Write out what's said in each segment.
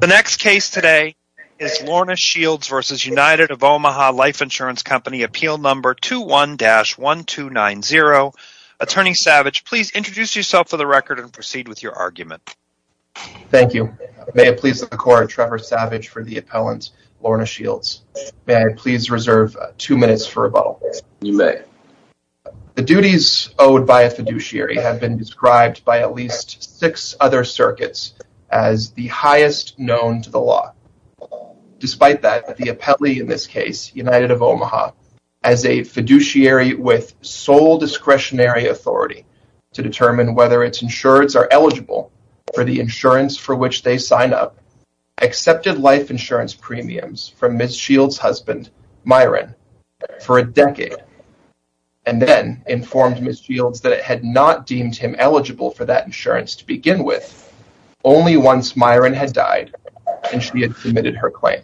The next case today is Lorna Shields v. United of Omaha Life Insurance Company, appeal number 21-1290. Attorney Savage, please introduce yourself for the record and proceed with your argument. Thank you. May it please the court, Trevor Savage for the appellant, Lorna Shields. May I please reserve two minutes for rebuttal? You may. The duties owed by a known to the law. Despite that, the appellee in this case, United of Omaha, as a fiduciary with sole discretionary authority to determine whether its insureds are eligible for the insurance for which they sign up, accepted life insurance premiums from Ms. Shields' husband, Myron, for a decade, and then informed Ms. Shields that it had not deemed him eligible for that insurance to begin with, only once Myron had died and she had submitted her claim.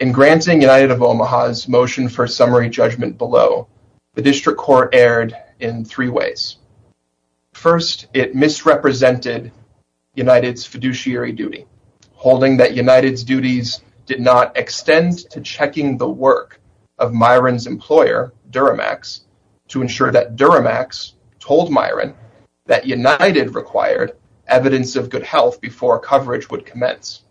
In granting United of Omaha's motion for summary judgment below, the district court erred in three ways. First, it misrepresented United's fiduciary duty, holding that United's duties did not extend to checking the work of Myron's employer, Duramax, to ensure that Duramax told Myron that United required evidence of good health before coverage would commence.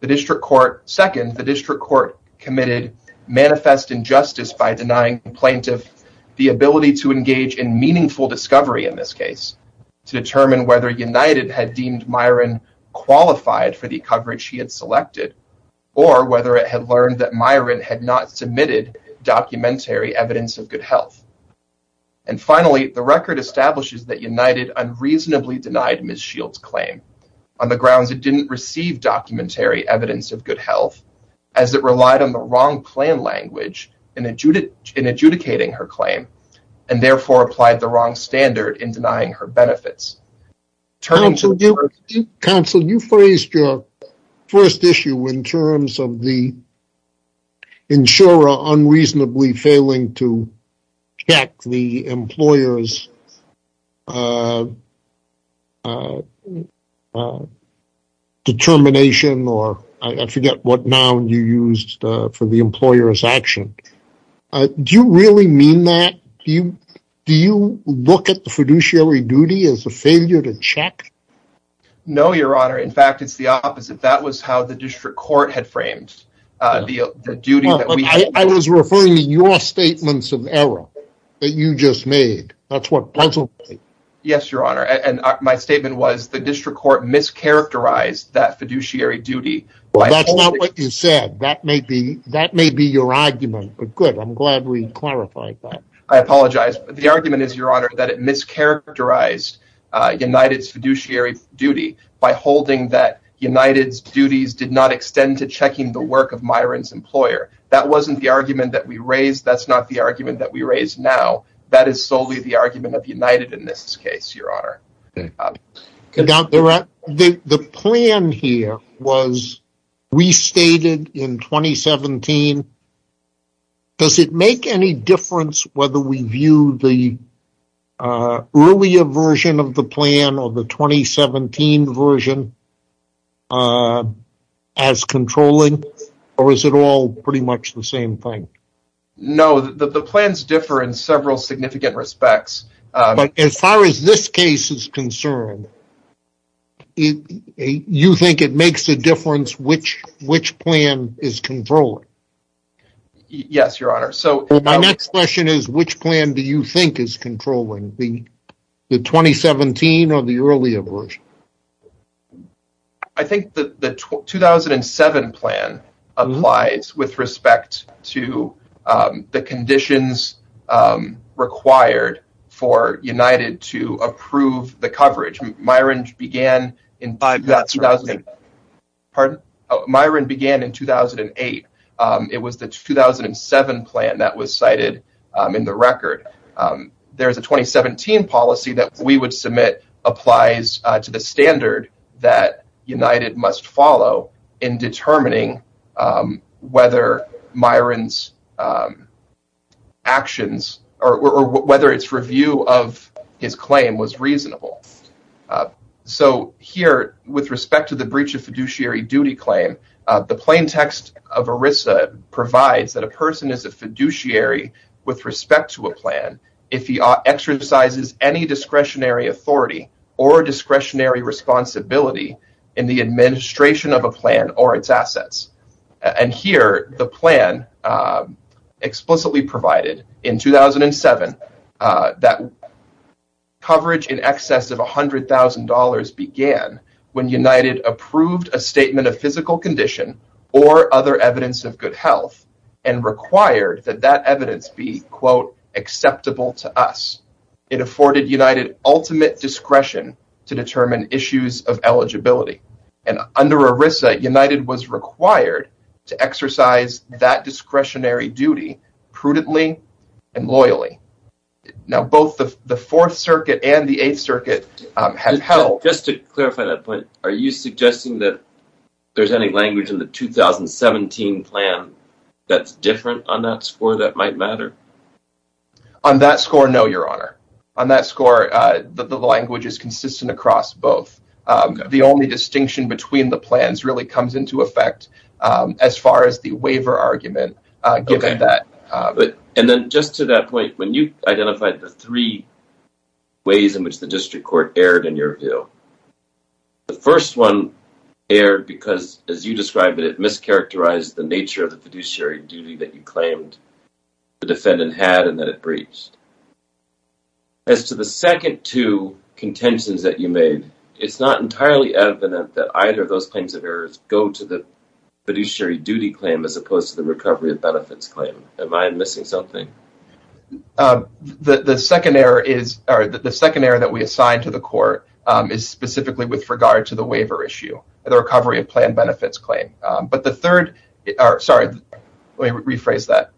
The district court, second, the district court committed manifest injustice by denying the plaintiff the ability to engage in meaningful discovery in this case, to determine whether United had deemed Myron qualified for the coverage he had had not submitted documentary evidence of good health. And finally, the record establishes that United unreasonably denied Ms. Shields' claim on the grounds it didn't receive documentary evidence of good health, as it relied on the wrong plan language in adjudicating her claim, and therefore applied the wrong standard in denying her benefits. Counsel, you phrased your first issue in terms of the insurer unreasonably failing to check the employer's determination, or I forget what noun you used for the employer's action. Do you really mean that? Do you look at the fiduciary duty as a failure to check? No, your honor. In fact, it's the opposite. That was how the district court had framed the duty. I was referring to your statements of error that you just made. That's what puzzled me. Yes, your honor. And my statement was the district court mischaracterized that fiduciary duty. That's not what you said. That may be your argument, but good. I'm glad we clarified that. I apologize. The argument is, your honor, that it mischaracterized United's fiduciary duty by holding that United's duties did not extend to checking the work of Myron's employer. That wasn't the argument that we raised. That's not the argument that we raised now. That is solely the argument of United in this case, your honor. The plan here was restated in 2017. Does it make any difference whether we view the earlier version of the plan or the 2017 version as controlling, or is it all pretty much the same thing? No, the plans differ in several significant respects. As far as this case is concerned, you think it makes a difference which plan is controlling? Yes, your honor. My next question is, which plan do you think is controlling, the 2017 or the earlier version? I think the 2007 plan applies with respect to the conditions required for United to approve the coverage. Myron began in 2008. It was the 2007 plan that was cited in the record. There's a 2017 policy that we would submit applies to the standard that United must follow in determining whether Myron's actions or whether its review of his claim was reasonable. So here, with respect to the breach of fiduciary duty claim, the plain text of ERISA provides that a person is a fiduciary with respect to a plan if he exercises any discretionary authority or discretionary responsibility in the administration of a plan or its assets. Here, the plan explicitly provided in 2007 that coverage in excess of $100,000 began when United approved a statement of physical condition or other evidence of good health and required that that evidence be, quote, acceptable to us. It afforded United ultimate discretion to determine issues of eligibility. And under ERISA, United was required to exercise that discretionary duty prudently and loyally. Now, both the Fourth Circuit and the Eighth Circuit have held... Are you suggesting that there's any language in the 2017 plan that's different on that score that might matter? On that score, no, Your Honor. On that score, the language is consistent across both. The only distinction between the plans really comes into effect as far as the waiver argument, given that... And then just to that point, when you identified the three ways in which the district court erred in your view. The first one erred because, as you described, it mischaracterized the nature of the fiduciary duty that you claimed the defendant had and that it breached. As to the second two contentions that you made, it's not entirely evident that either of those kinds of errors go to the fiduciary duty claim as opposed to the recovery of benefits claim. Am I missing something? The second error that we assigned to the court is specifically with regard to the waiver issue, the recovery of planned benefits claim. But the third... Sorry, let me rephrase that.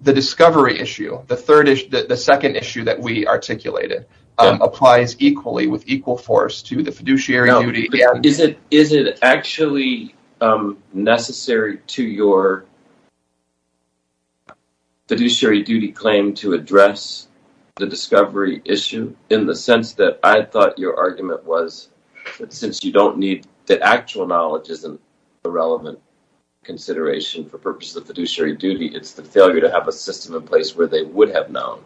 The discovery issue, the second issue that we articulated, applies equally with equal force to the fiduciary duty. Is it actually necessary to your fiduciary duty claim to address the discovery issue? In the sense that I thought your argument was that since you don't need... The actual knowledge isn't a relevant consideration for purposes of the fiduciary duty. It's the failure to have a system in place where they would have known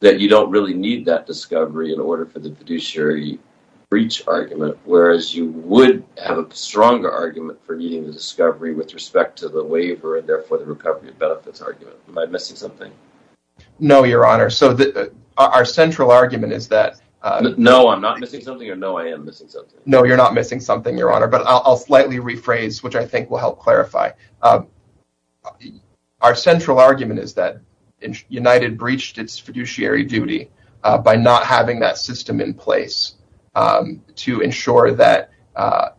that you don't really need that discovery in order for the fiduciary breach argument, whereas you would have a stronger argument for needing the discovery with respect to the waiver and therefore the recovery of benefits argument. Am I missing something? No, Your Honor. So our central argument is that... No, I'm not missing something or no, I am missing something. No, you're not missing something, Your Honor. But I'll slightly rephrase, which I think will help clarify. Our central argument is that United breached its fiduciary duty by not having that system in place to ensure that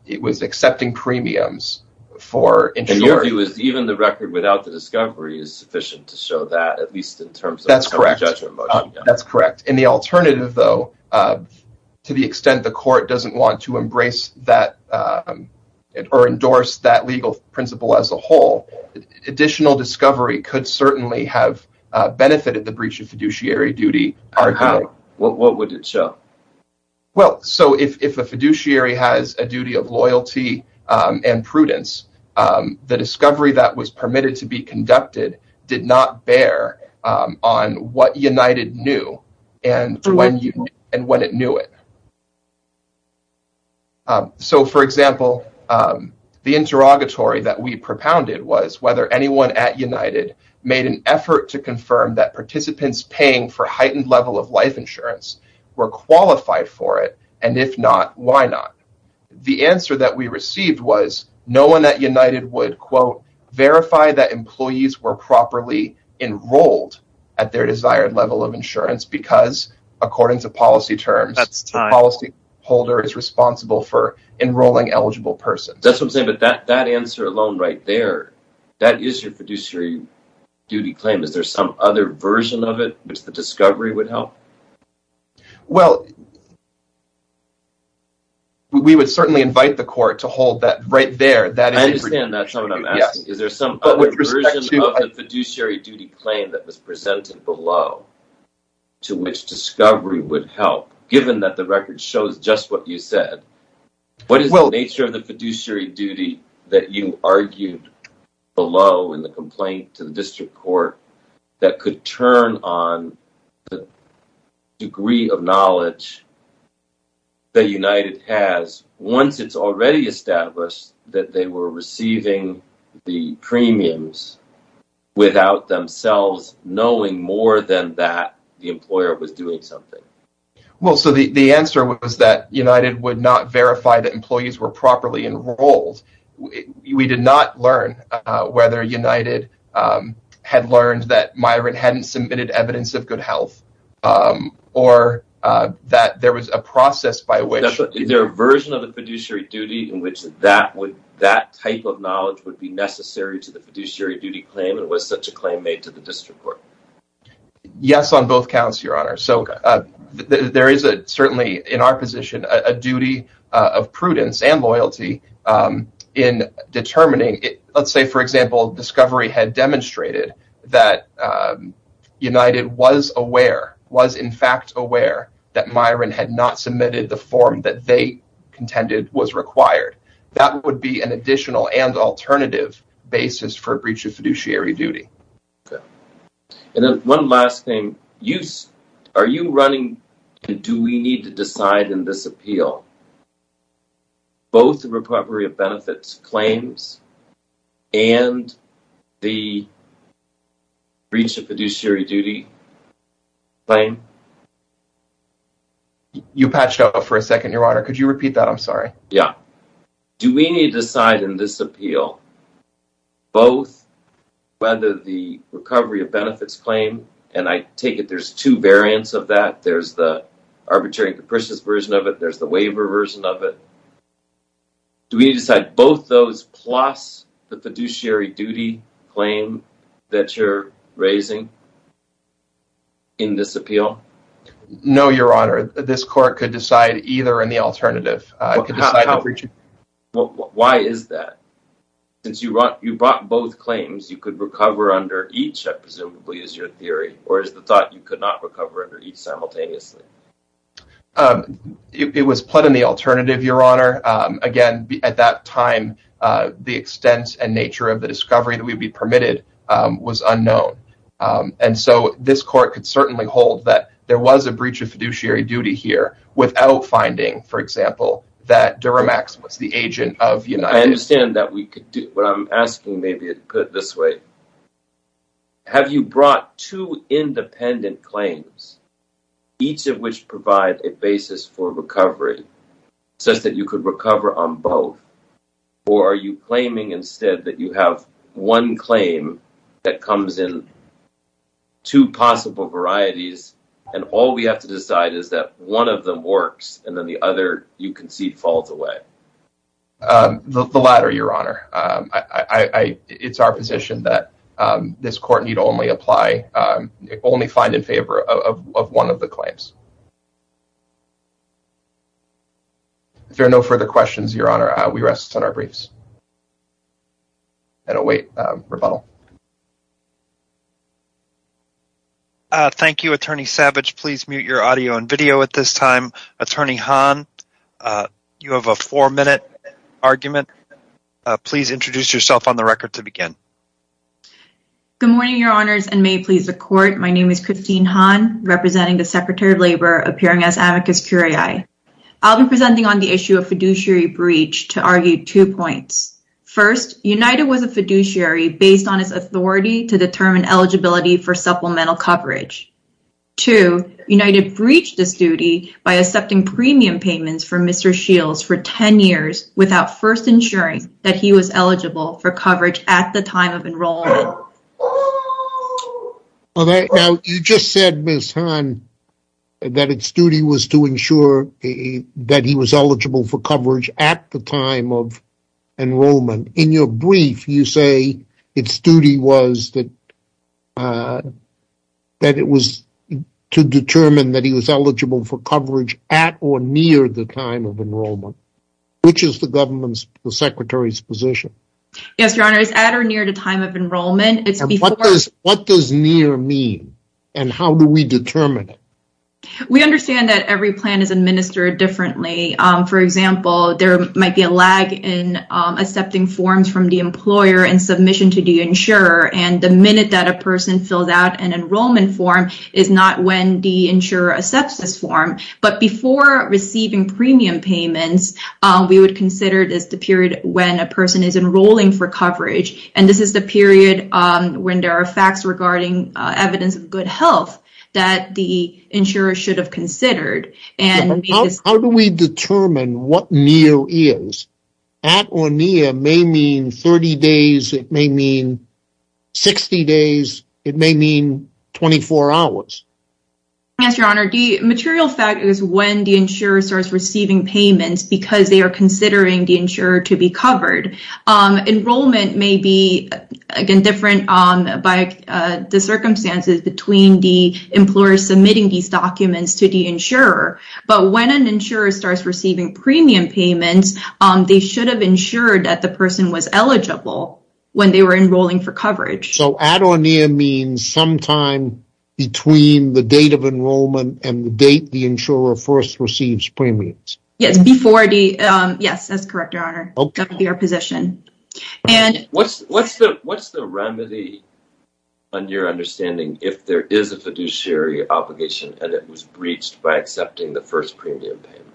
it was accepting premiums for... And your view is even the record without the discovery is sufficient to show that, at least in terms of... That's correct. That's correct. And the alternative, though, to the extent the court doesn't want to embrace that or endorse that legal principle as a whole, additional discovery could certainly have benefited the breach of fiduciary duty. How? What would it show? Well, so if a fiduciary has a duty of loyalty and prudence, the discovery that was permitted to be conducted did not bear on what United knew and when it knew it. So, for example, the interrogatory that we propounded was whether anyone at United made an effort to confirm that participants paying for heightened level of life insurance were qualified for it, and if not, why not? The answer that we received was no one at United would verify that employees were properly enrolled at their desired level of insurance because, according to policy terms, the policy holder is responsible for enrolling eligible persons. That's what I'm saying, but that answer alone right there, that is your fiduciary duty claim. Is there some other version of it which the discovery would help? Well, we would certainly invite the court to hold that right there. I understand that's not what I'm asking. Is there some other version of the fiduciary claim that was presented below to which discovery would help, given that the record shows just what you said? What is the nature of the fiduciary duty that you argued below in the complaint to the district court that could turn on the degree of knowledge that United has once it's already that they were receiving the premiums without themselves knowing more than that the employer was doing something? Well, so the answer was that United would not verify that employees were properly enrolled. We did not learn whether United had learned that Myron hadn't submitted evidence of good health or that there was a process by which… Is there a version of the that type of knowledge would be necessary to the fiduciary duty claim and was such a claim made to the district court? Yes, on both counts, Your Honor. So, there is certainly in our position a duty of prudence and loyalty in determining. Let's say, for example, discovery had demonstrated that United was aware, was in fact aware that Myron had not submitted the form that they contended was required. That would be an additional and alternative basis for breach of fiduciary duty. Okay, and then one last thing. Are you running, do we need to decide in this appeal both the recovery of benefits claims and the breach of fiduciary duty claim? You patched up for a second, Your Honor. Could you repeat that? I'm sorry. Yeah. Do we need to decide in this appeal both whether the recovery of benefits claim, and I take it there's two variants of that. There's the arbitrary and capricious version of it. There's the waiver version of it. Do we need to decide both those plus the fiduciary duty claim that you're raising in this appeal? No, Your Honor. This court could decide either in the alternative. Why is that? Since you brought both claims, you could recover under each, I presumably, is your theory, or is the thought you could not recover under each simultaneously? It was put in the alternative, Your Honor. Again, at that time, the extent and nature of the discovery that would be permitted was unknown, and so this court could certainly hold that there was a breach of fiduciary duty here without finding, for example, that Duramax was the agent of United States. I understand that we could do, but I'm asking maybe to put it this way. Have you brought two independent claims, each of which provide a basis for recovery, such that you could recover on both, or are you claiming instead that you have one claim that comes in two possible varieties and all we have to decide is that one of them works and then the other you concede falls away? The latter, Your Honor. It's our position that this court need If there are no further questions, Your Honor, we rest on our briefs and await rebuttal. Thank you, Attorney Savage. Please mute your audio and video at this time. Attorney Hahn, you have a four-minute argument. Please introduce yourself on the record to begin. Good morning, Your Honors, and may it please the Court. My name is Christine Hahn, representing the Secretary of Labor, appearing as amicus curiae. I'll be presenting on the issue of fiduciary breach to argue two points. First, United was a fiduciary based on its authority to determine eligibility for supplemental coverage. Two, United breached this duty by accepting premium payments for Mr. Shields for 10 years without first ensuring that he was eligible for coverage at the time of enrollment. Now, you just said, Ms. Hahn, that its duty was to ensure that he was eligible for coverage at the time of enrollment. In your brief, you say its duty was that it was to determine that he was eligible for coverage at or near the time of enrollment, which is the government's, the Secretary's, position. Yes, Your Honor, it's at or near the time of enrollment. What does near mean, and how do we determine it? We understand that every plan is administered differently. For example, there might be a lag in accepting forms from the employer in submission to the insurer, and the minute that a person fills out an enrollment form is not when the insurer accepts this form. But before receiving premium payments, we would consider this the period when a person is enrolling for coverage, and this is the period when there are facts regarding evidence of good health that the insurer should have considered. How do we determine what near is? At or near may mean 30 days, it may mean 60 days, it may mean 24 hours. Yes, Your Honor, the material fact is when the insurer starts receiving payments because they are considering the insurer to be covered. Enrollment may be different by the circumstances between the employer submitting these documents to the insurer, but when an insurer starts receiving premium payments, they should have ensured that the person was eligible when they were enrolling for coverage. So, at or near means sometime between the date of enrollment and the date the insurer first receives premiums. Yes, that's correct, Your Honor. That would be our position. What's the remedy on your understanding if there is a fiduciary obligation and it was breached by accepting the first premium payment?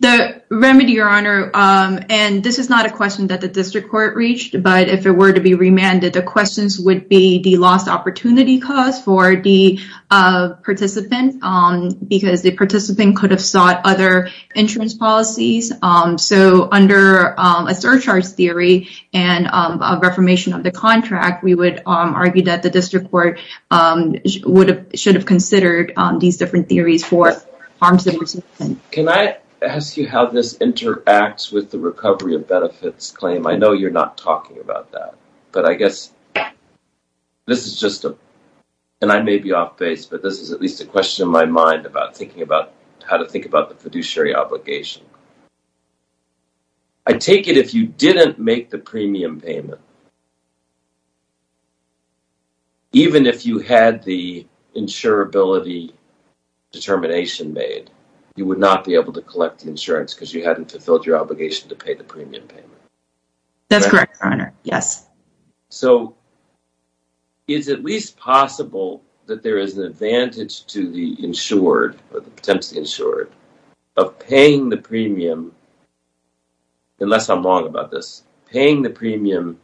The remedy, Your Honor, and this is not a question that the district court breached, but if it were to be remanded, the questions would be the lost opportunity cost for the participant because the participant could have sought other insurance policies. So, under a surcharge theory and a reformation of the contract, we would argue that the district court should have considered these different theories for harm to the participant. Can I ask you how this interacts with the recovery of benefits claim? I know you're not talking about that, but I guess this is just a, and I may be off base, but this is at least a question in my mind about thinking about how to think about the fiduciary obligation. I take it if you didn't make the premium payment, even if you had the insurability determination made, you would not be able to fulfill your obligation to pay the premium payment. That's correct, Your Honor. Yes. So, is it at least possible that there is an advantage to the insured or the potentially insured of paying the premium, unless I'm wrong about this, paying the premium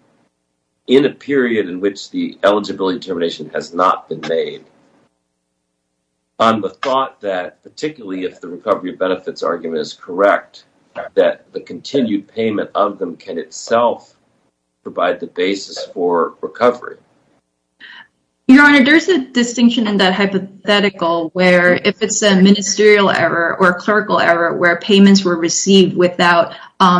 in a period in which the eligibility determination has not been made on the thought that particularly if the recovery benefits argument is correct, that the continued payment of them can itself provide the basis for recovery? Your Honor, there's a distinction in that hypothetical where if it's a ministerial error or a clerical error where payments were received without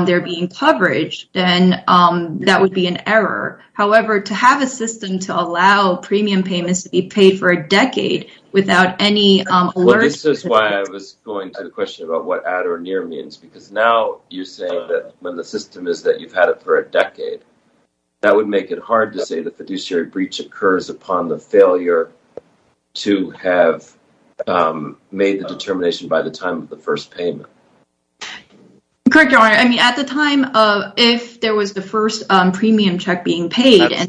there being coverage, then that would be an error. However, to have a system to allow premium payments to be paid for a decade without any... Well, this is why I was going to the question about what at or near means, because now you're saying that when the system is that you've had it for a decade, that would make it hard to say the fiduciary breach occurs upon the failure to have made the determination by the time of the first payment. Correct, Your Honor. I mean, at the time of if there was the first premium check being alerted in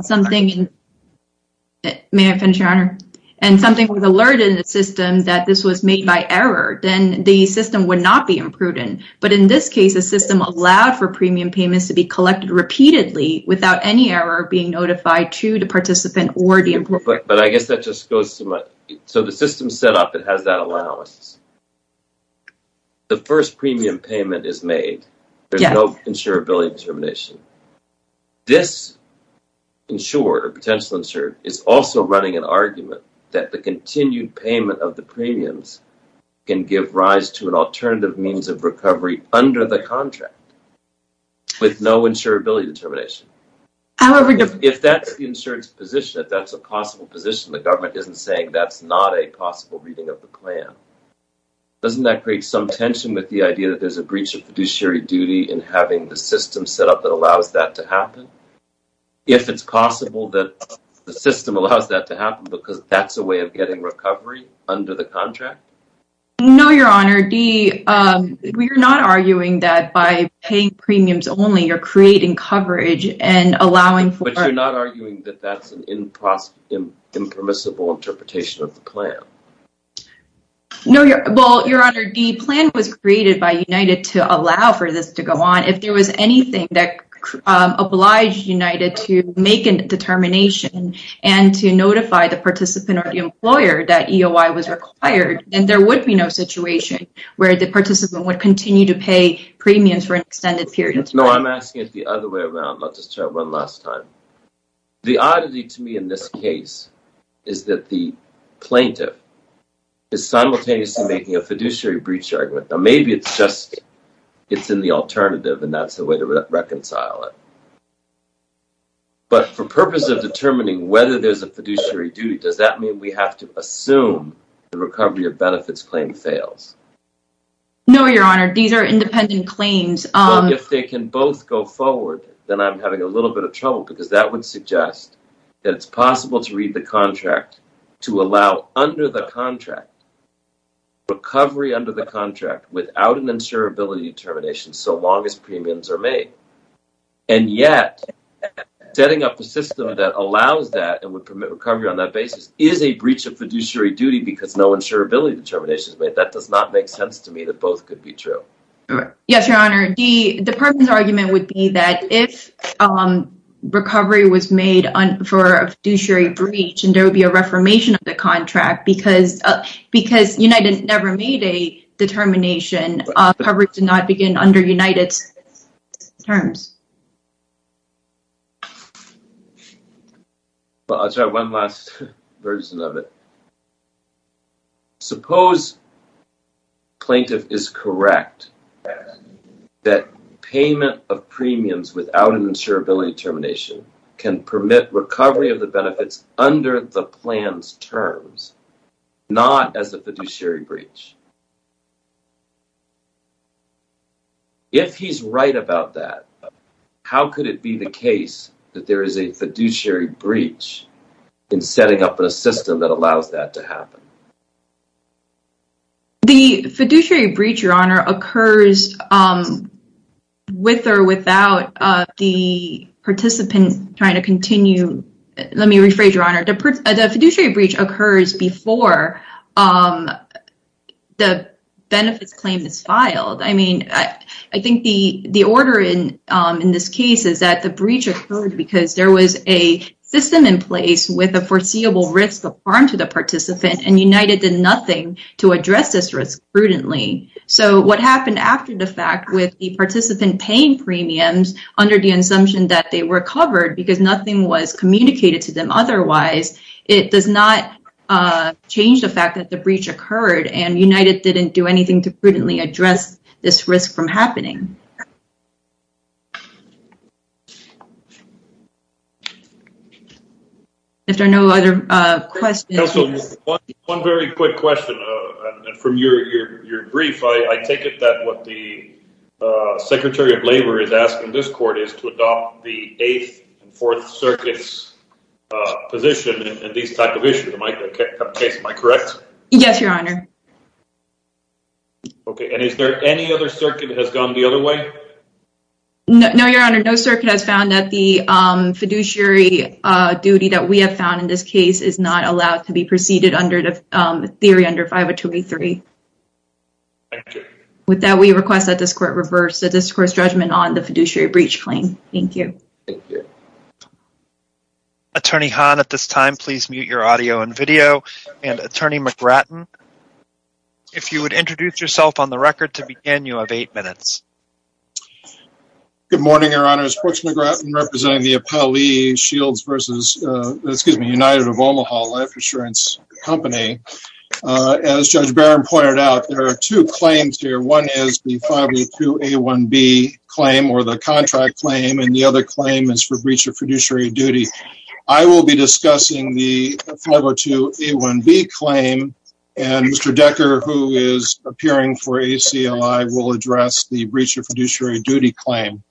the system that this was made by error, then the system would not be imprudent. But in this case, the system allowed for premium payments to be collected repeatedly without any error being notified to the participant or the employer. But I guess that just goes to my... So, the system's set up, it has that allowance. The first premium payment is made, there's no insurability determination. This insurer, potential insurer, is also running an argument that the continued payment of the premiums can give rise to an alternative means of recovery under the contract with no insurability determination. However... If that's the insurer's position, if that's a possible position, the government isn't saying that's not a possible reading of the plan. Doesn't that create some tension with the idea that there's a breach of fiduciary duty in having the system set up that allows that to happen? If it's possible that the system allows that to happen, is there a possibility of getting recovery under the contract? No, Your Honor. Dee, you're not arguing that by paying premiums only, you're creating coverage and allowing for... But you're not arguing that that's an impermissible interpretation of the plan? No, Your Honor. Well, Your Honor, the plan was created by United to allow for this to go on. If there was anything that obliged United to make a determination and to notify the participant or the employer that EOI was required, then there would be no situation where the participant would continue to pay premiums for an extended period of time. No, I'm asking it the other way around. Let's just try one last time. The oddity to me in this case is that the plaintiff is simultaneously making a fiduciary breach argument. Now, maybe it's just... It's in the alternative and that's a way to reconcile it. But for purposes of determining whether there's a fiduciary duty, does that mean we have to assume the recovery of benefits claim fails? No, Your Honor. These are independent claims. Well, if they can both go forward, then I'm having a little bit of trouble because that would suggest that it's possible to read the contract to allow under the contract, recovery under the contract without an insurability determination so long as premiums are made. And yet, setting up a system that allows that and would permit recovery on that basis is a breach of fiduciary duty because no insurability determination is made. That does not make sense to me that both could be true. Yes, Your Honor. The person's argument would be that if recovery was made for a fiduciary breach and there would be a reformation of the contract because United never made a determination, coverage did not begin under United's terms. Well, I'll try one last version of it. Suppose plaintiff is correct that payment of premiums without an insurability determination can permit recovery of the benefits under the plan's terms, not as a fiduciary breach. If he's right about that, how could it be the case that there is a fiduciary breach in setting up a system that allows that to happen? The fiduciary breach, Your Honor, occurs with or without the participant trying to continue. Let me rephrase, Your Honor. The fiduciary breach occurs before the benefits claim is filed. I mean, I think the order in this case is that the breach occurred because there was a system in place with foreseeable risk of harm to the participant and United did nothing to address this risk prudently. So, what happened after the fact with the participant paying premiums under the assumption that they recovered because nothing was communicated to them otherwise, it does not change the fact that the breach occurred and United didn't do anything to address it. Counsel, one very quick question. From your brief, I take it that what the Secretary of Labor is asking this court is to adopt the Eighth and Fourth Circuit's position in this type of issue. Am I correct? Yes, Your Honor. Okay, and is there any other circuit that has gone the other way? No, Your Honor. No circuit has found that the fiduciary duty that we have found in this case is not allowed to be proceeded under the theory under 5023. Thank you. With that, we request that this court reverse the discourse judgment on the fiduciary breach claim. Thank you. Attorney Hahn, at this time, please mute your audio and video. And Attorney McGratton, if you would introduce yourself on the record to begin, you have eight minutes. Good morning, Your Honor. It's Brooks McGratton representing the Appellee Shields versus, excuse me, United of Omaha Life Insurance Company. As Judge Barron pointed out, there are two claims here. One is the 502A1B claim or the contract claim and the other claim is for breach of fiduciary duty. I will be discussing the 502A1B claim and Mr. Decker, who is appearing for ACLI, will address the breach of fiduciary duty claim.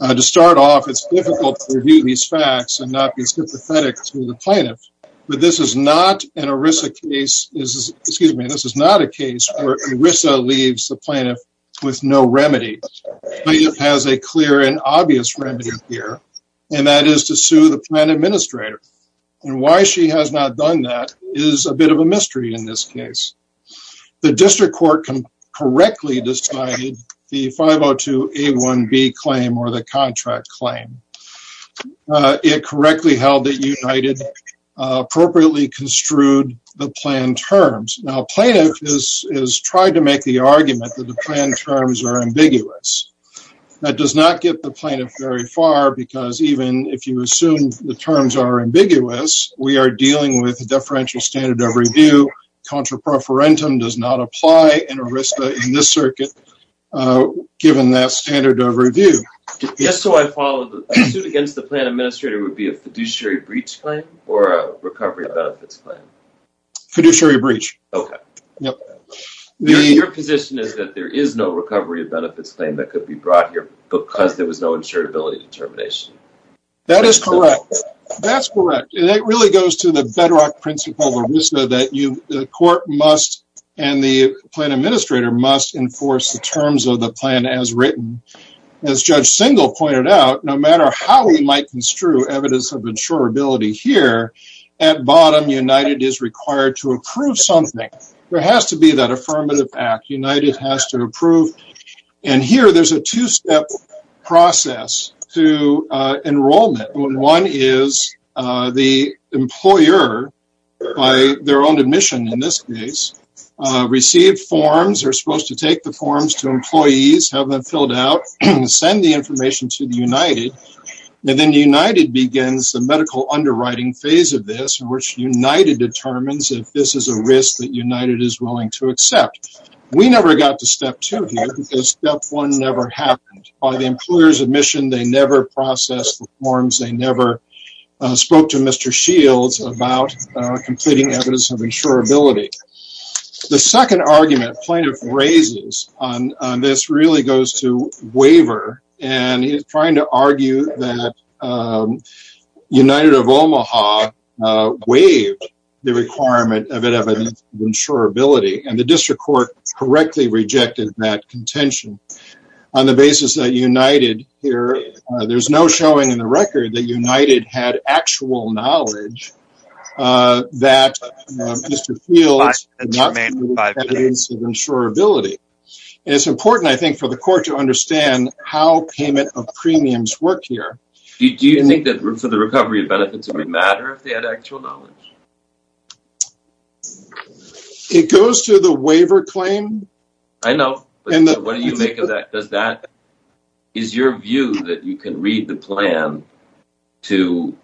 To start off, it's difficult to review these facts and not be sympathetic to the plaintiff. But this is not an ERISA case, excuse me, this is not a case where ERISA leaves the plaintiff with no remedy. But it has a clear and obvious remedy here and that is to sue the plan administrator. And why she has not done that is a bit of a mystery in this case. The district court can correctly decide the 502A1B claim or the contract claim. It correctly held that United appropriately construed the plan terms. Now plaintiff is trying to make the argument that the plan terms are ambiguous. That does not get the plaintiff very far because even if you assume the terms are ambiguous, we are dealing with a differential standard of review. Contra preferentum does not apply in ERISA in this circuit given that standard of review. Just so I follow, the suit against the plan administrator would be a fiduciary breach claim or a recovery of benefits claim? Fiduciary breach. Okay. Yep. Your position is that there is no recovery of benefits claim that could be brought here because there was no insurability determination. That is correct. That is correct. It really goes to the bedrock principle of ERISA that the court must and the plan administrator must enforce the terms of the plan as written. As Judge Singal pointed out, no matter how we might construe evidence of insurability here, at bottom United is required to approve something. There has to be that affirmative act. United has to approve. Here there is a two-step process to enrollment. One is the employer by their own admission in this case, receive forms. They are supposed to take the forms to employees, have them filled out, and send the information to the United. Then United begins the medical underwriting phase of this in which United determines if this is a risk that United is willing to accept. We never got to step two because step one never happened. By the employer's admission, they never processed the forms. They never spoke to Mr. Shields about completing evidence of insurability. The second argument plaintiff raises on this really goes to waiver and is trying to argue that United of Omaha waived the requirement of an evidence of insurability. The district court correctly rejected that contention on the basis that United, there is no showing in the record that United had actual knowledge that Mr. Shields had an evidence of insurability. It is important for the court to understand how payment of premiums work here. Do you think for the recovery of benefits, it would matter if they had actual knowledge? It goes to the waiver claim. I know. What do you make of that? Is your view that you can read the plan to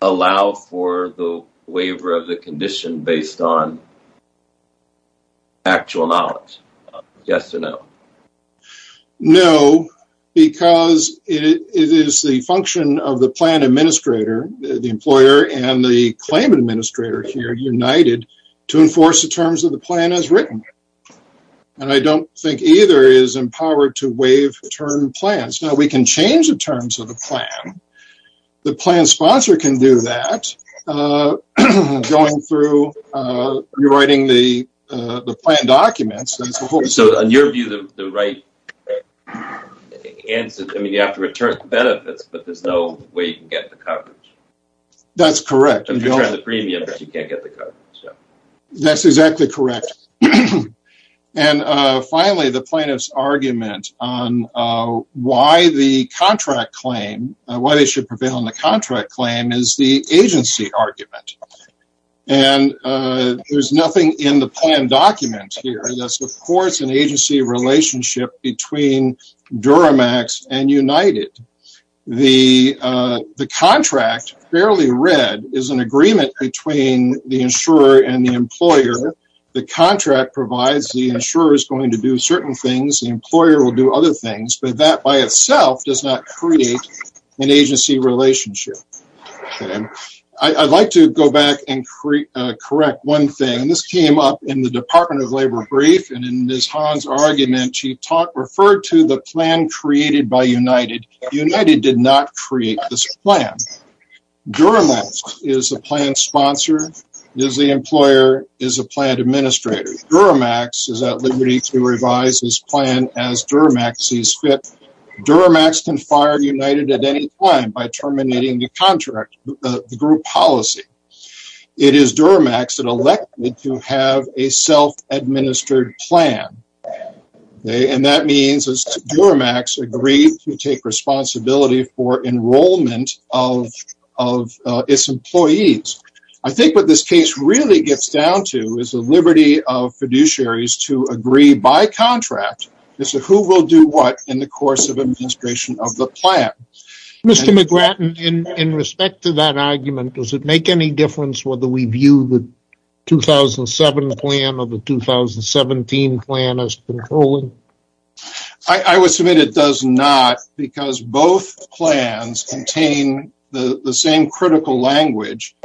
allow for the waiver of the condition based on actual knowledge? Yes or no? No, because it is the function of the plan administrator, the employer and the claim administrator here, United, to enforce the terms of the plan as written. I don't think either is empowered to waive return plans. We can change the terms of the plan. The plan sponsor can do that going through rewriting the plan documents. In your view, the right answer, you have to return benefits, but there is no way you can get the coverage. That is correct. That is exactly correct. Finally, the plaintiff's argument on why the contract claim, why they should prevail on the contract claim is the agency argument. There is nothing in the plan document here that supports an agency relationship between Duramax and United. The contract, fairly read, is an agreement between the insurer and the employer. The contract provides the insurer is going to do certain things. The employer will do other things, but that by itself does not create an agency relationship. I would like to go back and correct one thing. This came up in the Department of Labor brief. In Ms. Hahn's argument, she referred to the plan created by United. United did not create this plan. Duramax is the plan sponsor, is the employer, is the plan administrator. Duramax is at liberty to revise this plan as Duramax sees fit. Duramax can fire United at any time by terminating the contract, the group policy. It is Duramax that has a self-administered plan. That means Duramax agrees to take responsibility for enrollment of its employees. I think what this case really gets down to is the liberty of fiduciaries to agree by contract as to who will do what in the course of administration of the plan. Mr. McGratton, in respect to that argument, does it make any difference whether we view the 2007 plan or the 2017 plan as controlling? I would submit it does not because both plans contain the same critical language,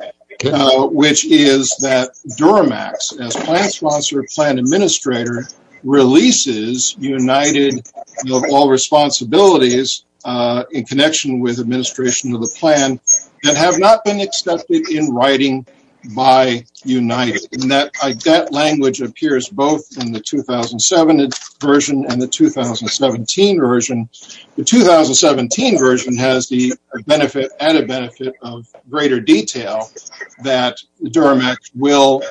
which is that Duramax as plan sponsor, plan administrator releases United of all responsibilities in connection with administration of the plan that have not been accepted in writing by United. That language appears both in the 2007 version and the 2017 version. The 2017 version has the benefit, added benefit of greater detail that Duramax will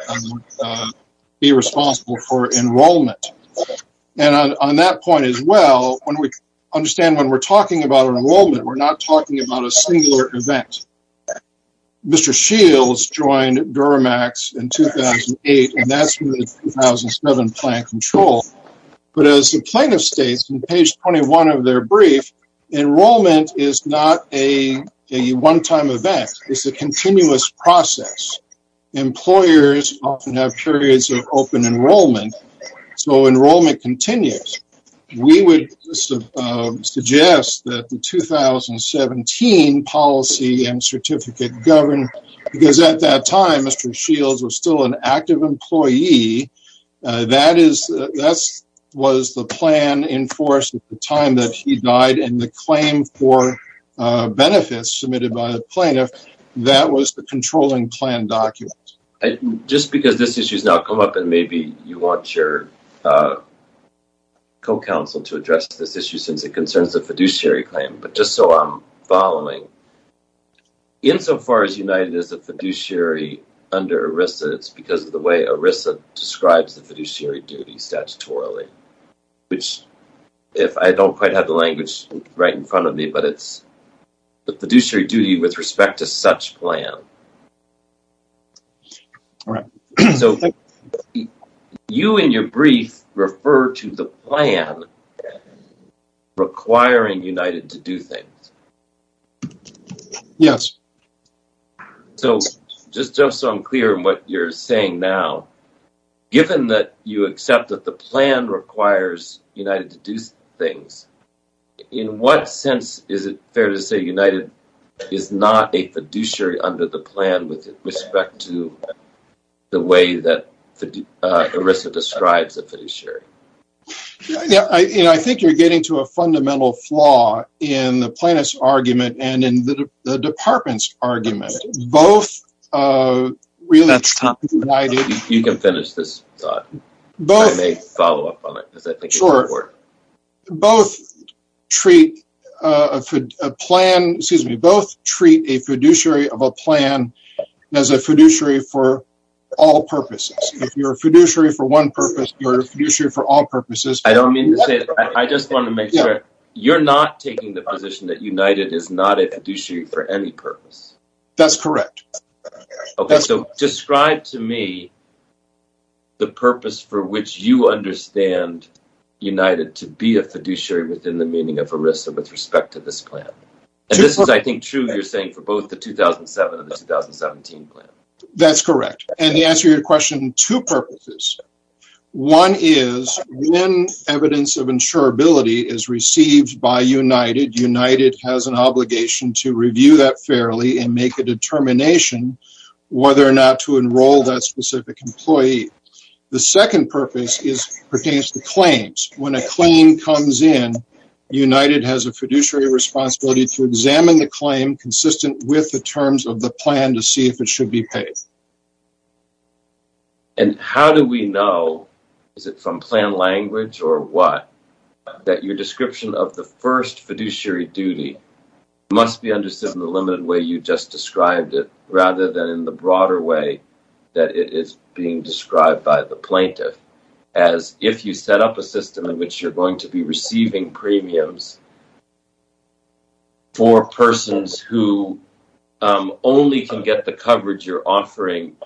be responsible for enrollment. On that point as well, understand when we are talking about enrollment, we are not talking about a singular event. Mr. Shields joined Duramax in 2008, and that is the 2007 plan control. As the plaintiff states in page 21 of their brief, enrollment is not a one-time event. It is a continuous process. Employers often have open enrollment, so enrollment continues. We would suggest that the 2017 policy and certificate govern, because at that time, Mr. Shields was still an active employee. That was the plan enforced at the time that he died, and the claim for benefits submitted by the plaintiff, that was the controlling plan document. Just because this issue has now come up, and maybe you want your co-counsel to address this issue since it concerns the fiduciary claim, but just so I am following, insofar as United is a fiduciary under ERISA, it is because of the way ERISA describes the fiduciary duty statutorily, which if I don't quite have the language right in front of me, but it is the fiduciary duty with respect to such plan. So you in your brief refer to the plan requiring United to do things. Yes. So just so I am clear in what you are saying now, given that you accept that the plan requires United to do things, in what sense is it fair to say United is not a fiduciary under the plan with respect to the way that ERISA describes a fiduciary? I think you are getting to a fundamental flaw in the plaintiff's argument and in the department's argument. Both treat a fiduciary of a plan as a fiduciary for all purposes. If you are a fiduciary for one purpose, you are a fiduciary for all purposes. I just want to make sure you are not taking the position that United is not a fiduciary for any purpose. That is correct. Okay. So describe to me the purpose for which you understand United to be a fiduciary within the meaning of ERISA with respect to this plan. This is, I think, true, you are saying, for both the 2007 and the 2017 plan. That is correct. To answer your question, two purposes. One is, when evidence of insurability is received by United, United has an obligation to review that fairly and make a determination whether or not to enroll that specific employee. The second purpose pertains to claims. When a claim comes in, United has a fiduciary responsibility to examine the claim consistent with the terms of the plan to see if it should be paid. How do we know, is it from plan language or what, that your description of the first fiduciary duty must be understood in the limited way you just described it rather than in the broader way that it is being described by the plaintiff, as if you set up a system in which you are going to be receiving premiums for persons who only can get the coverage you are offering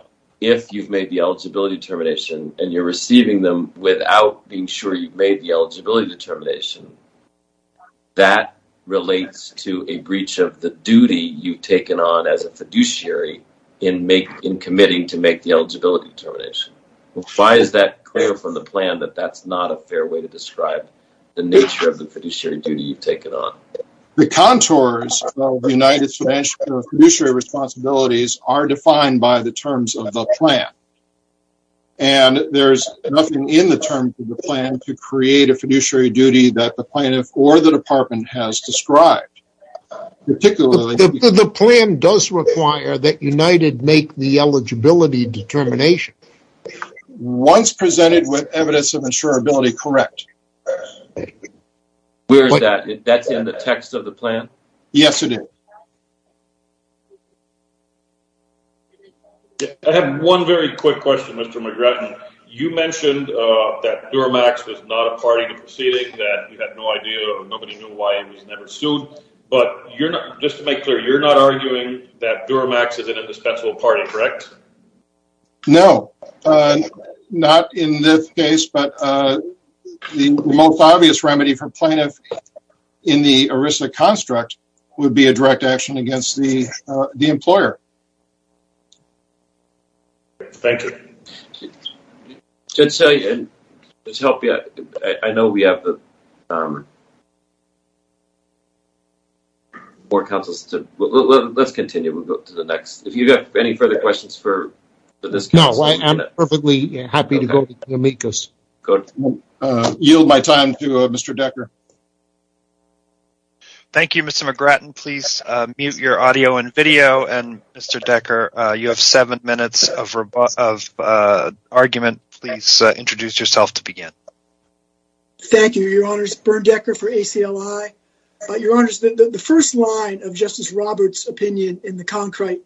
if you have made the eligibility determination and you are receiving them without being sure you have made the eligibility determination. That relates to a breach of the duty you have taken on as a fiduciary in committing to make the eligibility determination. Why is that clear from the contours of United's financial fiduciary responsibilities are defined by the terms of the plan and there is nothing in the terms of the plan to create a fiduciary duty that the plaintiff or the department has described. The plan does require that United make the eligibility determination. Once presented with evidence of insurability, correct. Where is that? That is in the text of the plan? Yes, it is. I have one very quick question, Mr. McGratton. You mentioned that Duramax was not a party to proceedings, that you had no idea or nobody knew why it was never sued, but just to make clear, you are not arguing that Duramax is an indispensable party, correct? No. Not in this case, but the most obvious remedy for plaintiff in the ERISA construct would be a direct action against the employer. Thank you. This helped me. I know we have more counsels. Let's continue. If you have any further questions for this case, I am perfectly happy to go to you. I yield my time to Mr. Decker. Thank you, Mr. McGratton. Please mute your audio and video. Mr. Decker, you have seven minutes of argument. Please introduce yourself to begin. Thank you, Your Honors. Bernd Decker for ACLI. Your Honors, the first line of Justice Roberts' opinion in the Concrete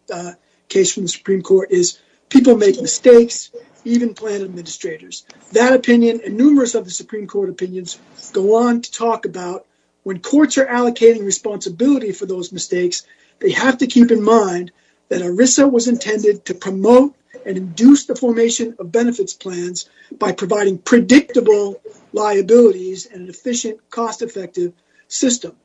case from the Supreme Court is people make mistakes, even plan administrators. That opinion and numerous other Supreme Court opinions go on to talk about when courts are allocating responsibility for those mistakes, they have to keep in mind that ERISA was intended to promote and induce the formation of benefits plans by providing predictable liabilities in an efficient, cost-effective system.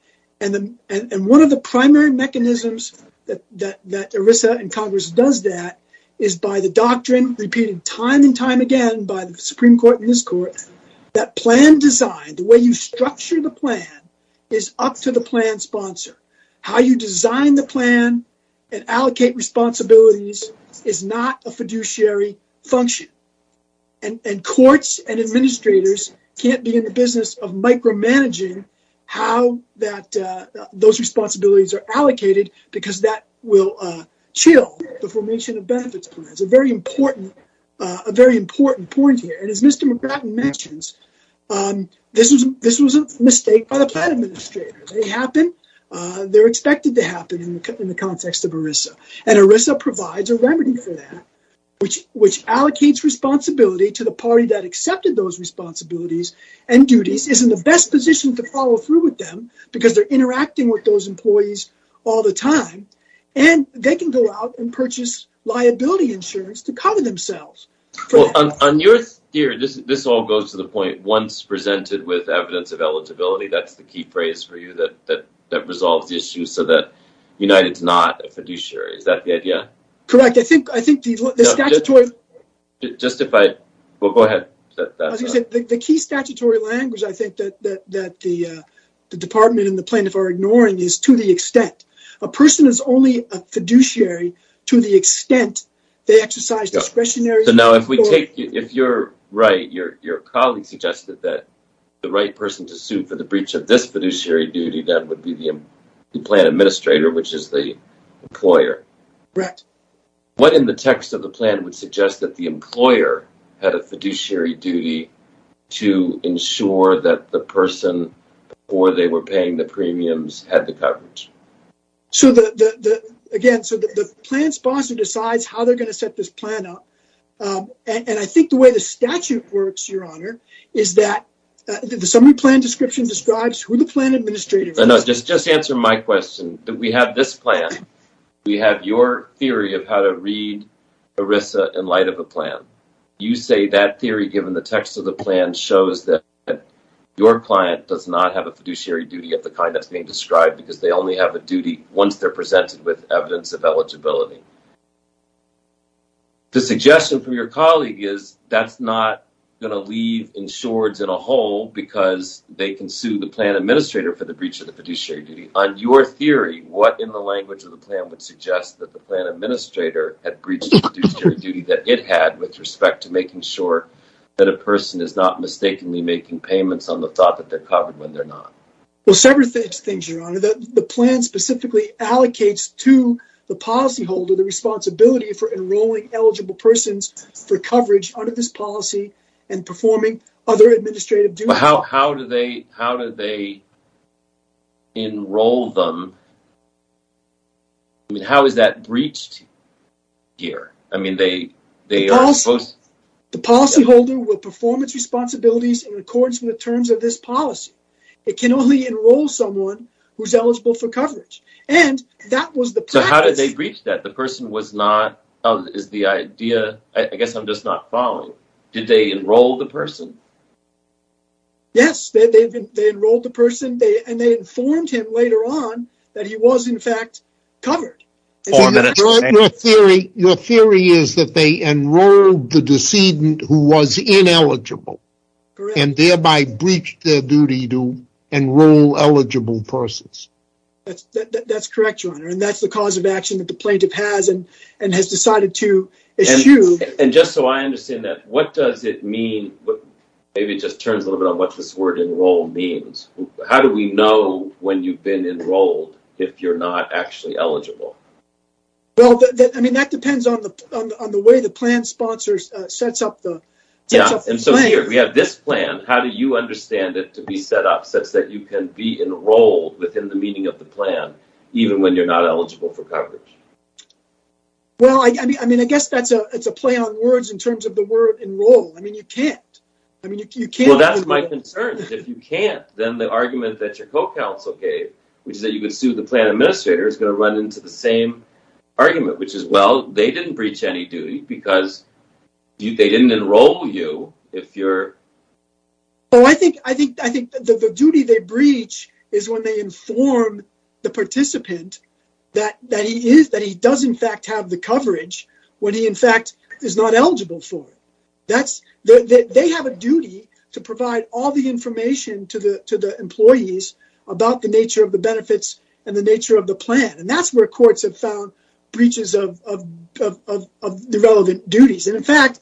One of the primary mechanisms that ERISA and Congress does that is by the doctrine repeated time and time again by the Supreme Court and this Court that plan design, the way you structure the plan, is up to the plan sponsor. How you design the plan and allocate responsibilities is not a fiduciary function. Courts and administrators can't be in the business of micromanaging how those responsibilities are allocated because that will chill the formation of benefits plans. A very important point here. As Mr. McGratton mentions, this was a mistake by the plan administrator. They happen. They're expected to happen in the context of ERISA. ERISA provides a remedy for that, which allocates responsibility to the party that accepted those responsibilities and duties, is in the best position to follow through with them because they're interacting with those employees all the time, and they can go out and purchase liability insurance to cover themselves. This all goes to the point, once presented with evidence of eligibility, that's the key phrase for you that resolves the issue so that United is not a fiduciary. Is that the idea? Correct. The key statutory language, I think, that the department and the plaintiff are ignoring is to the extent. A person is only a fiduciary to the extent they exercise discretionary... So now, if you're right, your colleague suggested that the right person to sue for the breach of this fiduciary duty, that would be the plan administrator, which is the employer. Correct. What in the text of the plan would suggest that the employer had a fiduciary duty to ensure that the person, before they were paying the premiums, had the coverage? Again, so the plan sponsor decides how they're going to set this plan up, and I think the way the statute works, Your Honor, is that the summary plan description describes who the plan administrator is. No, no, just answer my question. We have this plan. We have your theory of how to read ERISA in light of a plan. You say that theory, given the text of the plan, shows that your client does not have a fiduciary duty of the kind that's being described because they only have a duty once they're presented with evidence of eligibility. The suggestion from your colleague is that's not going to leave insureds in a hole because they can sue the plan administrator for the breach of the fiduciary duty. On your theory, what in the language of the plan would suggest that the plan administrator had breached the fiduciary duty that it had with respect to making sure that a person is not mistakenly making payments on the thought that they're covered when they're not? Well, several things, Your Honor. The plan specifically allocates to the policyholder the responsibility for enrolling eligible persons for coverage under this policy and performing other administrative duties. How do they enroll them? I mean, how is that breached here? The policyholder will perform its responsibilities in accordance with the terms of this policy. It can only enroll someone who's eligible for coverage. How did they breach that? I guess I'm just not following. Did they enroll the person? Yes, they enrolled the person and they informed him later on that he was in fact covered. Your theory is that they enrolled the decedent who was ineligible and thereby breached their duty to enroll eligible persons. That's correct, Your Honor, and that's the cause of action that the plaintiff has and has decided to issue. And just so I understand that, what does it mean? Maybe it just turns a little bit on what this word enroll means. How do we know when you've been enrolled if you're not actually eligible? Well, I mean, that depends on the way the plan sponsors sets up the plan. Yeah, and so here we have this plan. How do you understand it to be set up such that you can be enrolled within the meaning of the plan even when you're not eligible for coverage? Well, I mean, I guess that's a play on words in terms of the word enroll. I mean, you can't. Well, that's my concern. If you can't, then the argument that your co-counsel gave, which is that you could sue the plan administrator, is going to run into the same argument, which is, well, they didn't breach any duty because they didn't enroll you. I think the duty they breach is when they inform the participant that he does in fact have the duty to provide all the information to the employees about the nature of the benefits and the nature of the plan. And that's where courts have found breaches of the relevant duties. And in fact,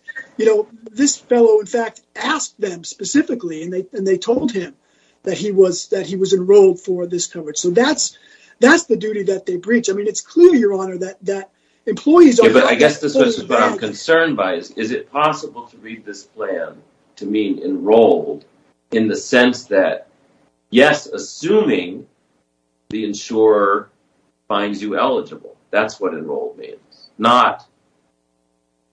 this fellow, in fact, asked them specifically, and they told him that he was enrolled for this coverage. So that's the duty that they breach. I mean, it's clear, Your Honor, that employees are- Yeah, but I guess this is what I'm concerned by. Is it possible to read this plan to mean enrolled in the sense that, yes, assuming the insurer finds you eligible. That's what enrolled means. Not,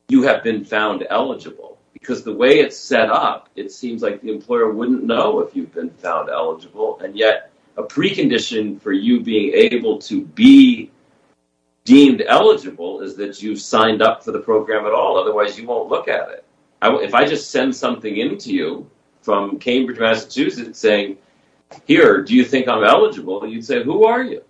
you have been found eligible. Because the way it's set up, it seems like the employer wouldn't know if you've been found eligible. And yet, a precondition for you being able to be deemed eligible is that you've signed up for the plan. If I just send something in to you from Cambridge, Massachusetts, saying, here, do you think I'm eligible? You'd say, who are you?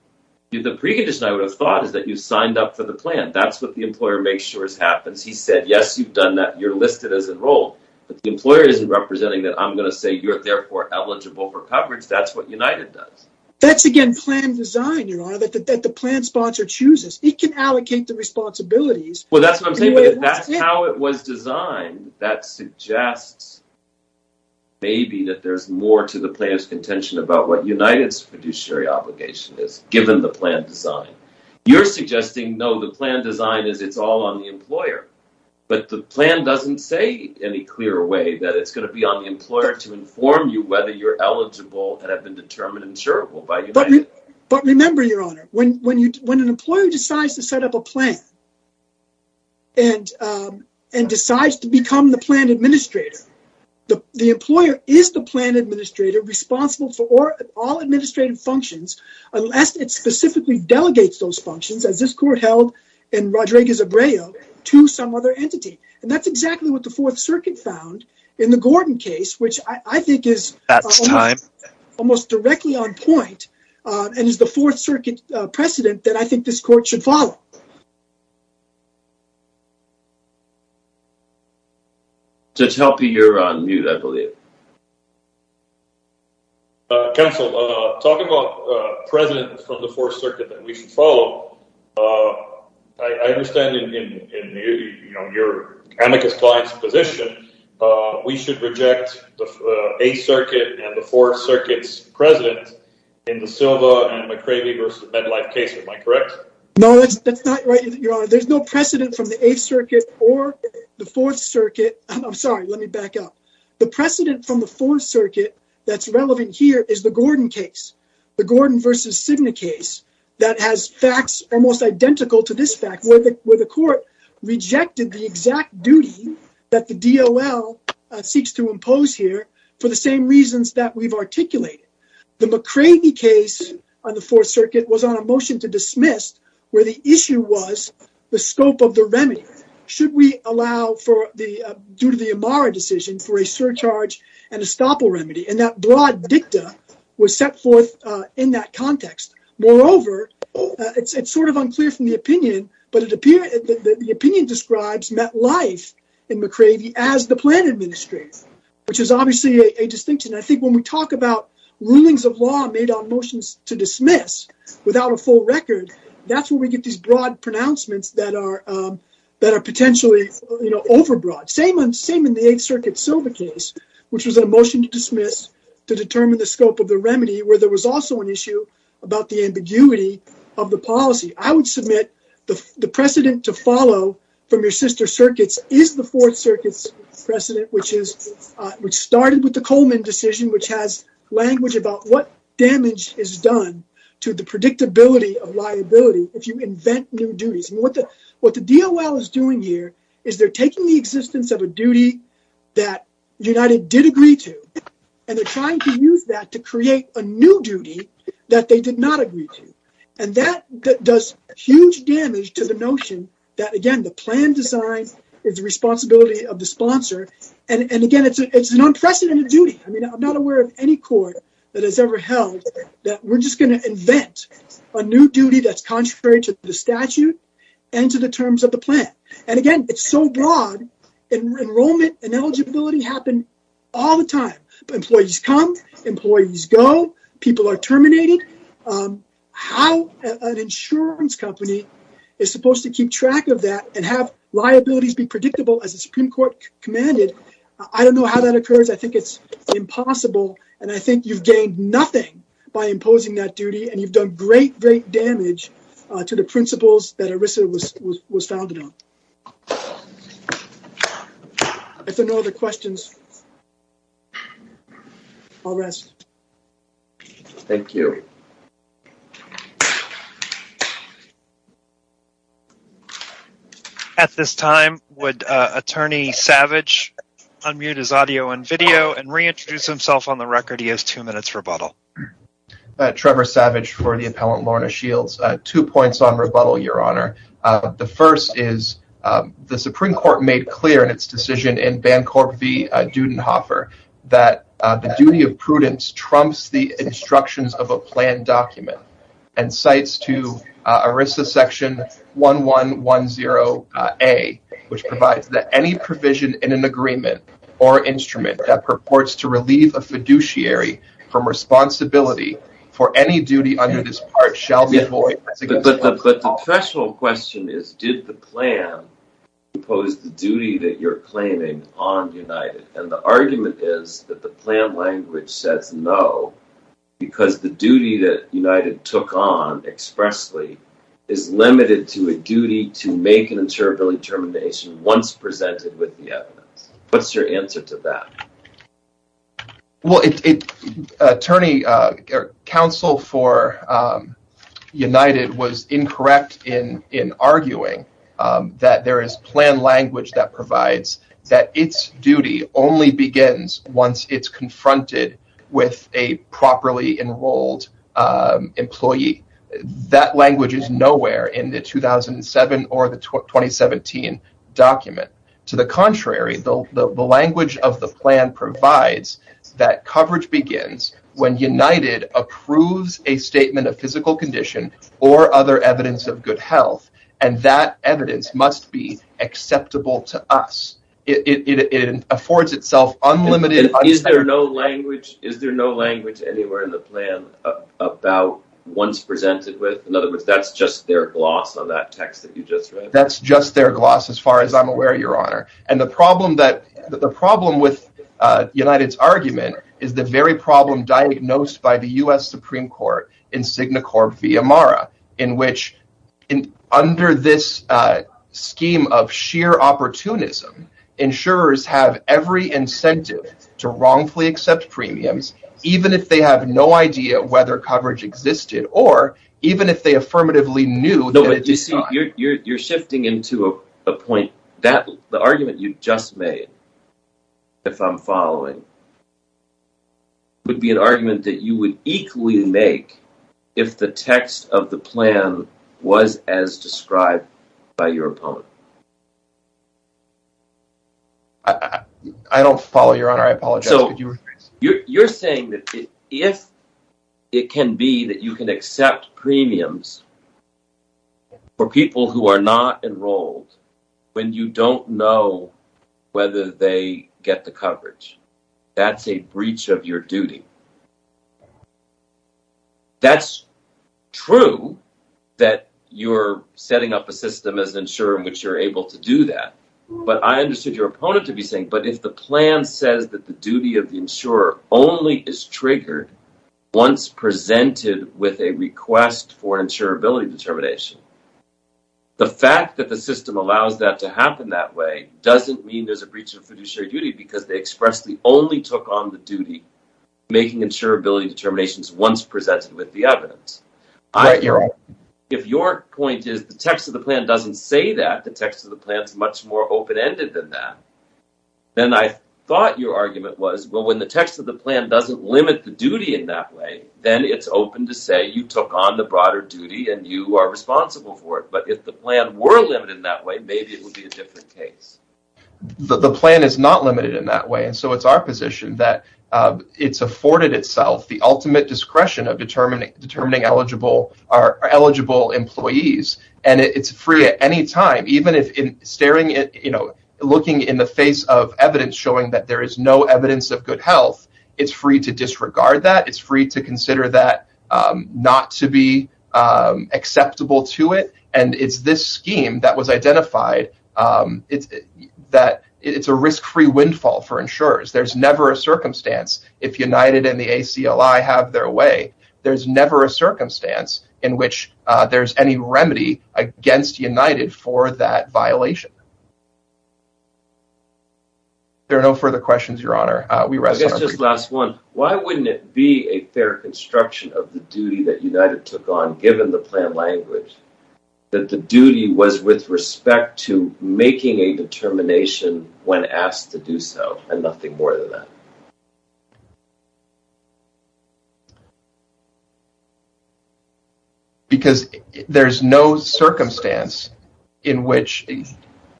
The precondition I would have thought is that you signed up for the plan. That's what the employer makes sure happens. He said, yes, you've done that. You're listed as enrolled. But the employer isn't representing that I'm going to say you're therefore eligible for coverage. That's what United does. That's, again, plan design, Your Honor, that the plan sponsor chooses. It can allocate the responsibilities. Well, that's what I'm saying. But that's how it was designed. That suggests maybe that there's more to the planner's contention about what United's fiduciary obligation is, given the plan design. You're suggesting, no, the plan design is it's all on the employer. But the plan doesn't say any clearer way that it's going to be on the employer to inform you whether you're eligible and have been determined insurable by United. But remember, Your Honor, when an employer decides to and decides to become the plan administrator, the employer is the plan administrator responsible for all administrative functions, unless it specifically delegates those functions, as this court held in Rodriguez-Abreu, to some other entity. And that's exactly what the Fourth Circuit found in the Gordon case, which I think is almost directly on point and is the Fourth Circuit's case. Judge Helpe, you're on mute, I believe. Counsel, talking about presidents from the Fourth Circuit that we should follow, I understand in your amicus client's position, we should reject the Eighth Circuit and the Fourth Circuit's president in the Silva and McCravey v. Medlife case. Am I correct? No, that's not right, Your Honor. There's no precedent from the Eighth Circuit or the Fourth Circuit. I'm sorry, let me back up. The precedent from the Fourth Circuit that's relevant here is the Gordon case, the Gordon v. Cigna case that has facts almost identical to this fact, where the court rejected the exact duty that the DOL seeks to impose here for the same reasons that we've articulated. The McCravey case on the Fourth Circuit was on a motion to dismiss, where the issue was the scope of the remedy. Should we allow, due to the Amara decision, for a surcharge and estoppel remedy? And that broad dicta was set forth in that context. Moreover, it's sort of unclear from the opinion, but the opinion describes Metlife and McCravey as the plan administrators, which is obviously a distinction. I think when we talk about rulings of law made on motions to dismiss without a full record, that's where we get these broad pronouncements that are potentially, you know, overbroad. Same in the Eighth Circuit Silva case, which was a motion to dismiss to determine the scope of the remedy, where there was also an issue about the ambiguity of the policy. I would submit the precedent to follow from your sister circuits is the Fourth which started with the Coleman decision, which has language about what damage is done to the predictability of liability if you invent new duties. And what the DOL is doing here is they're taking the existence of a duty that United did agree to, and they're trying to use that to create a new duty that they did not agree to. And that does huge damage to the notion that, again, the plan design is the responsibility of the sponsor. And again, it's an unprecedented duty. I mean, I'm not aware of any court that has ever held that we're just going to invent a new duty that's contrary to the statute and to the terms of the plan. And again, it's so broad. Enrollment and eligibility happen all the time. Employees come, employees go, people are terminated. How an insurance company is supposed to keep track of that and have liabilities be predictable as the Supreme Court commanded, I don't know how that occurs. I think it's impossible. And I think you've gained nothing by imposing that duty, and you've done great, great damage to the principles that ERISA was founded on. If there are no other questions, I'll rest. Thank you. At this time, would Attorney Savage unmute his audio and video and reintroduce himself on the record? He has two minutes rebuttal. Trevor Savage for the appellant, Lorna Shields. Two points on rebuttal, Your Honor. The first is the Supreme Court made clear in its decision in Bancorp v. Dudenhofer that the duty of prudence trumps the instructions of a planned document and cites to ERISA section 1110A, which provides that any provision in an agreement or instrument that purports to relieve a fiduciary from responsibility for any duty under this part shall be void. But the professional question is, did the plan impose the duty that you're claiming on United? And the argument is that the plan language says no, because the duty that United took on expressly is limited to a duty to make an insurability termination once presented with the evidence. What's your answer to that? Well, Attorney, counsel for United was incorrect in arguing that there is planned language that that its duty only begins once it's confronted with a properly enrolled employee. That language is nowhere in the 2007 or the 2017 document. To the contrary, the language of the plan provides that coverage begins when United approves a statement of physical condition or other evidence and that evidence must be acceptable to us. It affords itself unlimited... Is there no language anywhere in the plan about once presented with? In other words, that's just their gloss on that text that you just read? That's just their gloss as far as I'm aware, Your Honor. And the problem with United's argument is the very problem diagnosed by the U.S. Supreme Court in SignaCorp v. Amara, in which under this scheme of sheer opportunism, insurers have every incentive to wrongfully accept premiums even if they have no idea whether coverage existed or even if they affirmatively knew... No, but you see, you're shifting into a point that the argument you just made, if I'm following, would be an argument that you would equally make if the text of the plan was as described by your opponent. I don't follow, Your Honor. I apologize. You're saying that if it can be that you can accept premiums for people who are not enrolled when you don't know whether they get the coverage, that's a breach of your duty. That's true that you're setting up a system as an insurer in which you're able to do that, but I understood your opponent to be saying, but if the plan says that the duty of the insurer only is triggered once presented with a request for insurability determination, the fact that the system allows that to happen that way doesn't mean there's a breach of fiduciary duty because they expressly only took on the duty making insurability determinations once presented with the evidence. If your point is the text of the plan doesn't say that, the text of the plan is much more open-ended than that, then I thought your argument was, well, when the text of the plan doesn't limit the duty in that way, then it's open to say you took on the broader duty and you are responsible for it, but if the plan were limited in that way, maybe it would be a different case. The plan is not limited in that way and so it's our position that it's afforded itself the ultimate discretion of determining eligible employees and it's free at any time, even if in staring at, looking in the face of evidence showing that there is no evidence of good health, it's free to disregard that, it's free to consider that not to be acceptable to it, and it's this scheme that was identified that it's a risk-free windfall for insurers. There's never a circumstance if United and the ACLI have their way, there's never a circumstance in which there's any remedy against United for that violation. There are no further questions, Your Honor. I guess just last one. Why wouldn't it be a reconstruction of the duty that United took on, given the plan language, that the duty was with respect to making a determination when asked to do so and nothing more than that? Because there's no circumstance in which,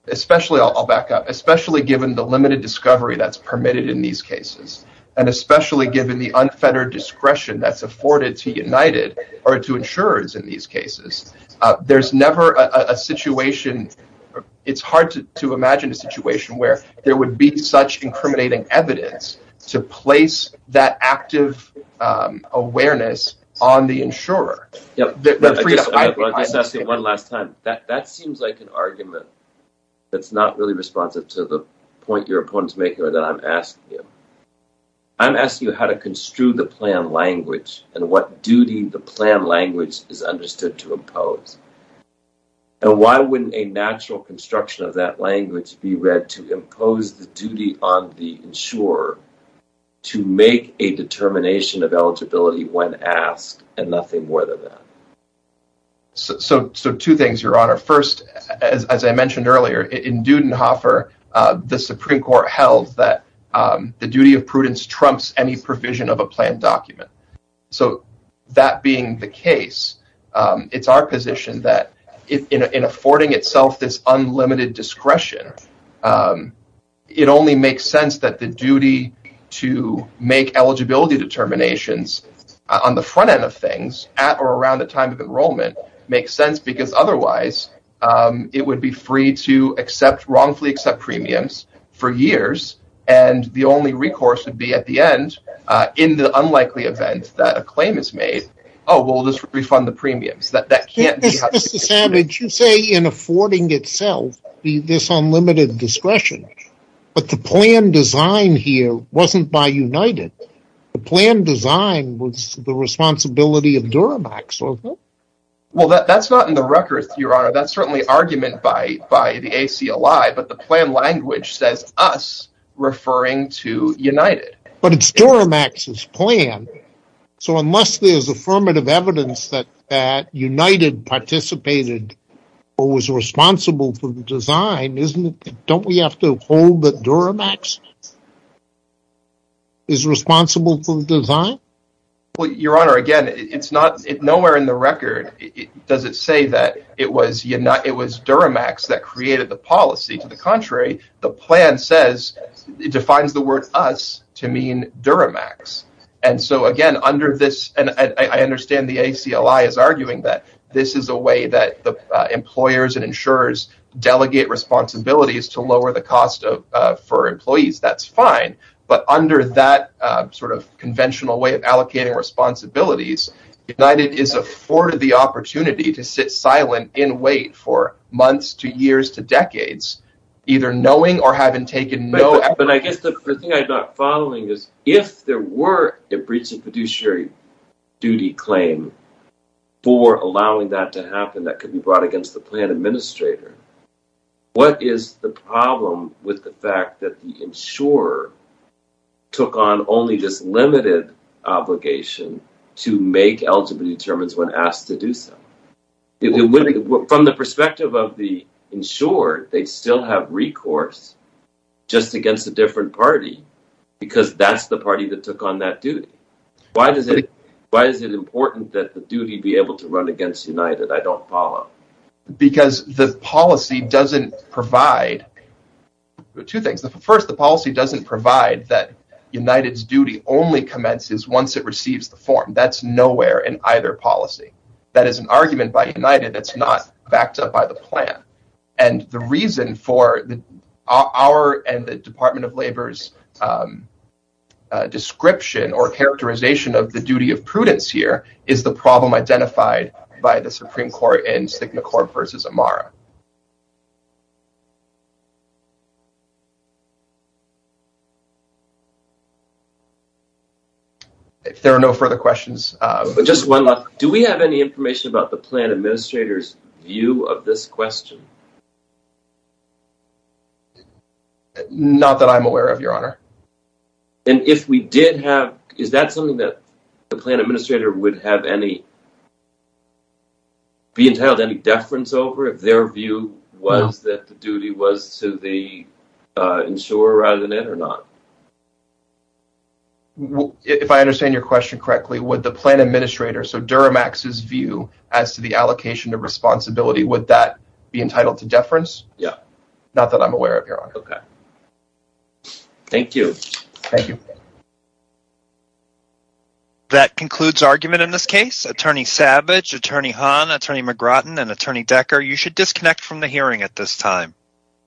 especially, I'll back up, especially given the limited discovery that's permitted in these cases and especially given the unfettered discretion that's afforded to United or to insurers in these cases, there's never a situation, it's hard to imagine a situation where there would be such incriminating evidence to place that active awareness on the insurer. I'll just ask you one last time. That seems like an argument that's not really responsive to the point your opponent's making or that I'm asking you. I'm asking you how to construe the plan language and what duty the plan language is understood to impose, and why wouldn't a natural construction of that language be read to impose the duty on the insurer to make a determination of eligibility when asked and nothing more than that? So two things, Your Honor. First, as I mentioned earlier, in Dudenhofer, the Supreme Court held that the duty of prudence trumps any provision of a plan document. So that being the case, it's our position that in affording itself this unlimited discretion, it only makes sense that the duty to make eligibility determinations on the front end of things at or around the time of enrollment makes sense because otherwise it would be free to wrongfully accept premiums for years, and the only recourse would be at the end, in the unlikely event that a claim is made, oh, we'll just refund the premiums. Mr. Savage, you say in affording itself this unlimited discretion, but the plan design here wasn't by United. The plan design was the responsibility of Duramax, wasn't it? Well, that's not in the record, Your Honor. That's certainly argument by the ACLI, but the plan language says us referring to United. But it's Duramax's plan. So unless there's affirmative evidence that United participated or was responsible for the design, don't we have to hold that Duramax is responsible for the design? Well, Your Honor, again, nowhere in the record does it say that it was Duramax that created the policy. To the contrary, the plan says, it defines the word us to mean Duramax. And so, again, under this, and I understand the ACLI is arguing that this is a way that the employers and insurers delegate responsibilities to lower the cost for employees. That's fine. But under that sort of conventional way of allocating responsibilities, United is afforded the opportunity to sit silent and wait for months to years to decades, either knowing or having taken note. But I guess the thing I'm not following is if there were a breach of fiduciary duty claim for allowing that to happen, that could be brought against the plan administrator. What is the problem with the fact that the insurer took on only this limited obligation to make LGBT determinants when asked to do so? From the perspective of the insurer, they still have recourse just against a different party because that's the party that took on that duty. Why is it important that the duty be able to run against United? I don't follow. Because the policy doesn't provide two things. First, the policy doesn't provide that United's duty only commences once it receives the form. That's nowhere in either policy. That is an argument by United that's not backed up by the plan. And the reason for our and the Department of Labor's description or characterization of the duty of prudence here is the problem identified by the Supreme Court in Stigma Corp versus Amara. There are no further questions. Do we have any information about the plan administrator's view of this question? Not that I'm aware of, Your Honor. Is that something that the plan administrator would have any be entitled any deference over if their view was that the duty was to the insurer rather than it or not? If I understand your question correctly, would the plan administrator, so Duramax's view as to the allocation of responsibility, would that be entitled to deference? Yeah. Not that I'm aware of, Your Honor. Okay. Thank you. Thank you. That concludes argument in this case. Attorney Savage, Attorney Hahn, Attorney McGrattan, and Attorney Decker, you should disconnect from the hearing at this time.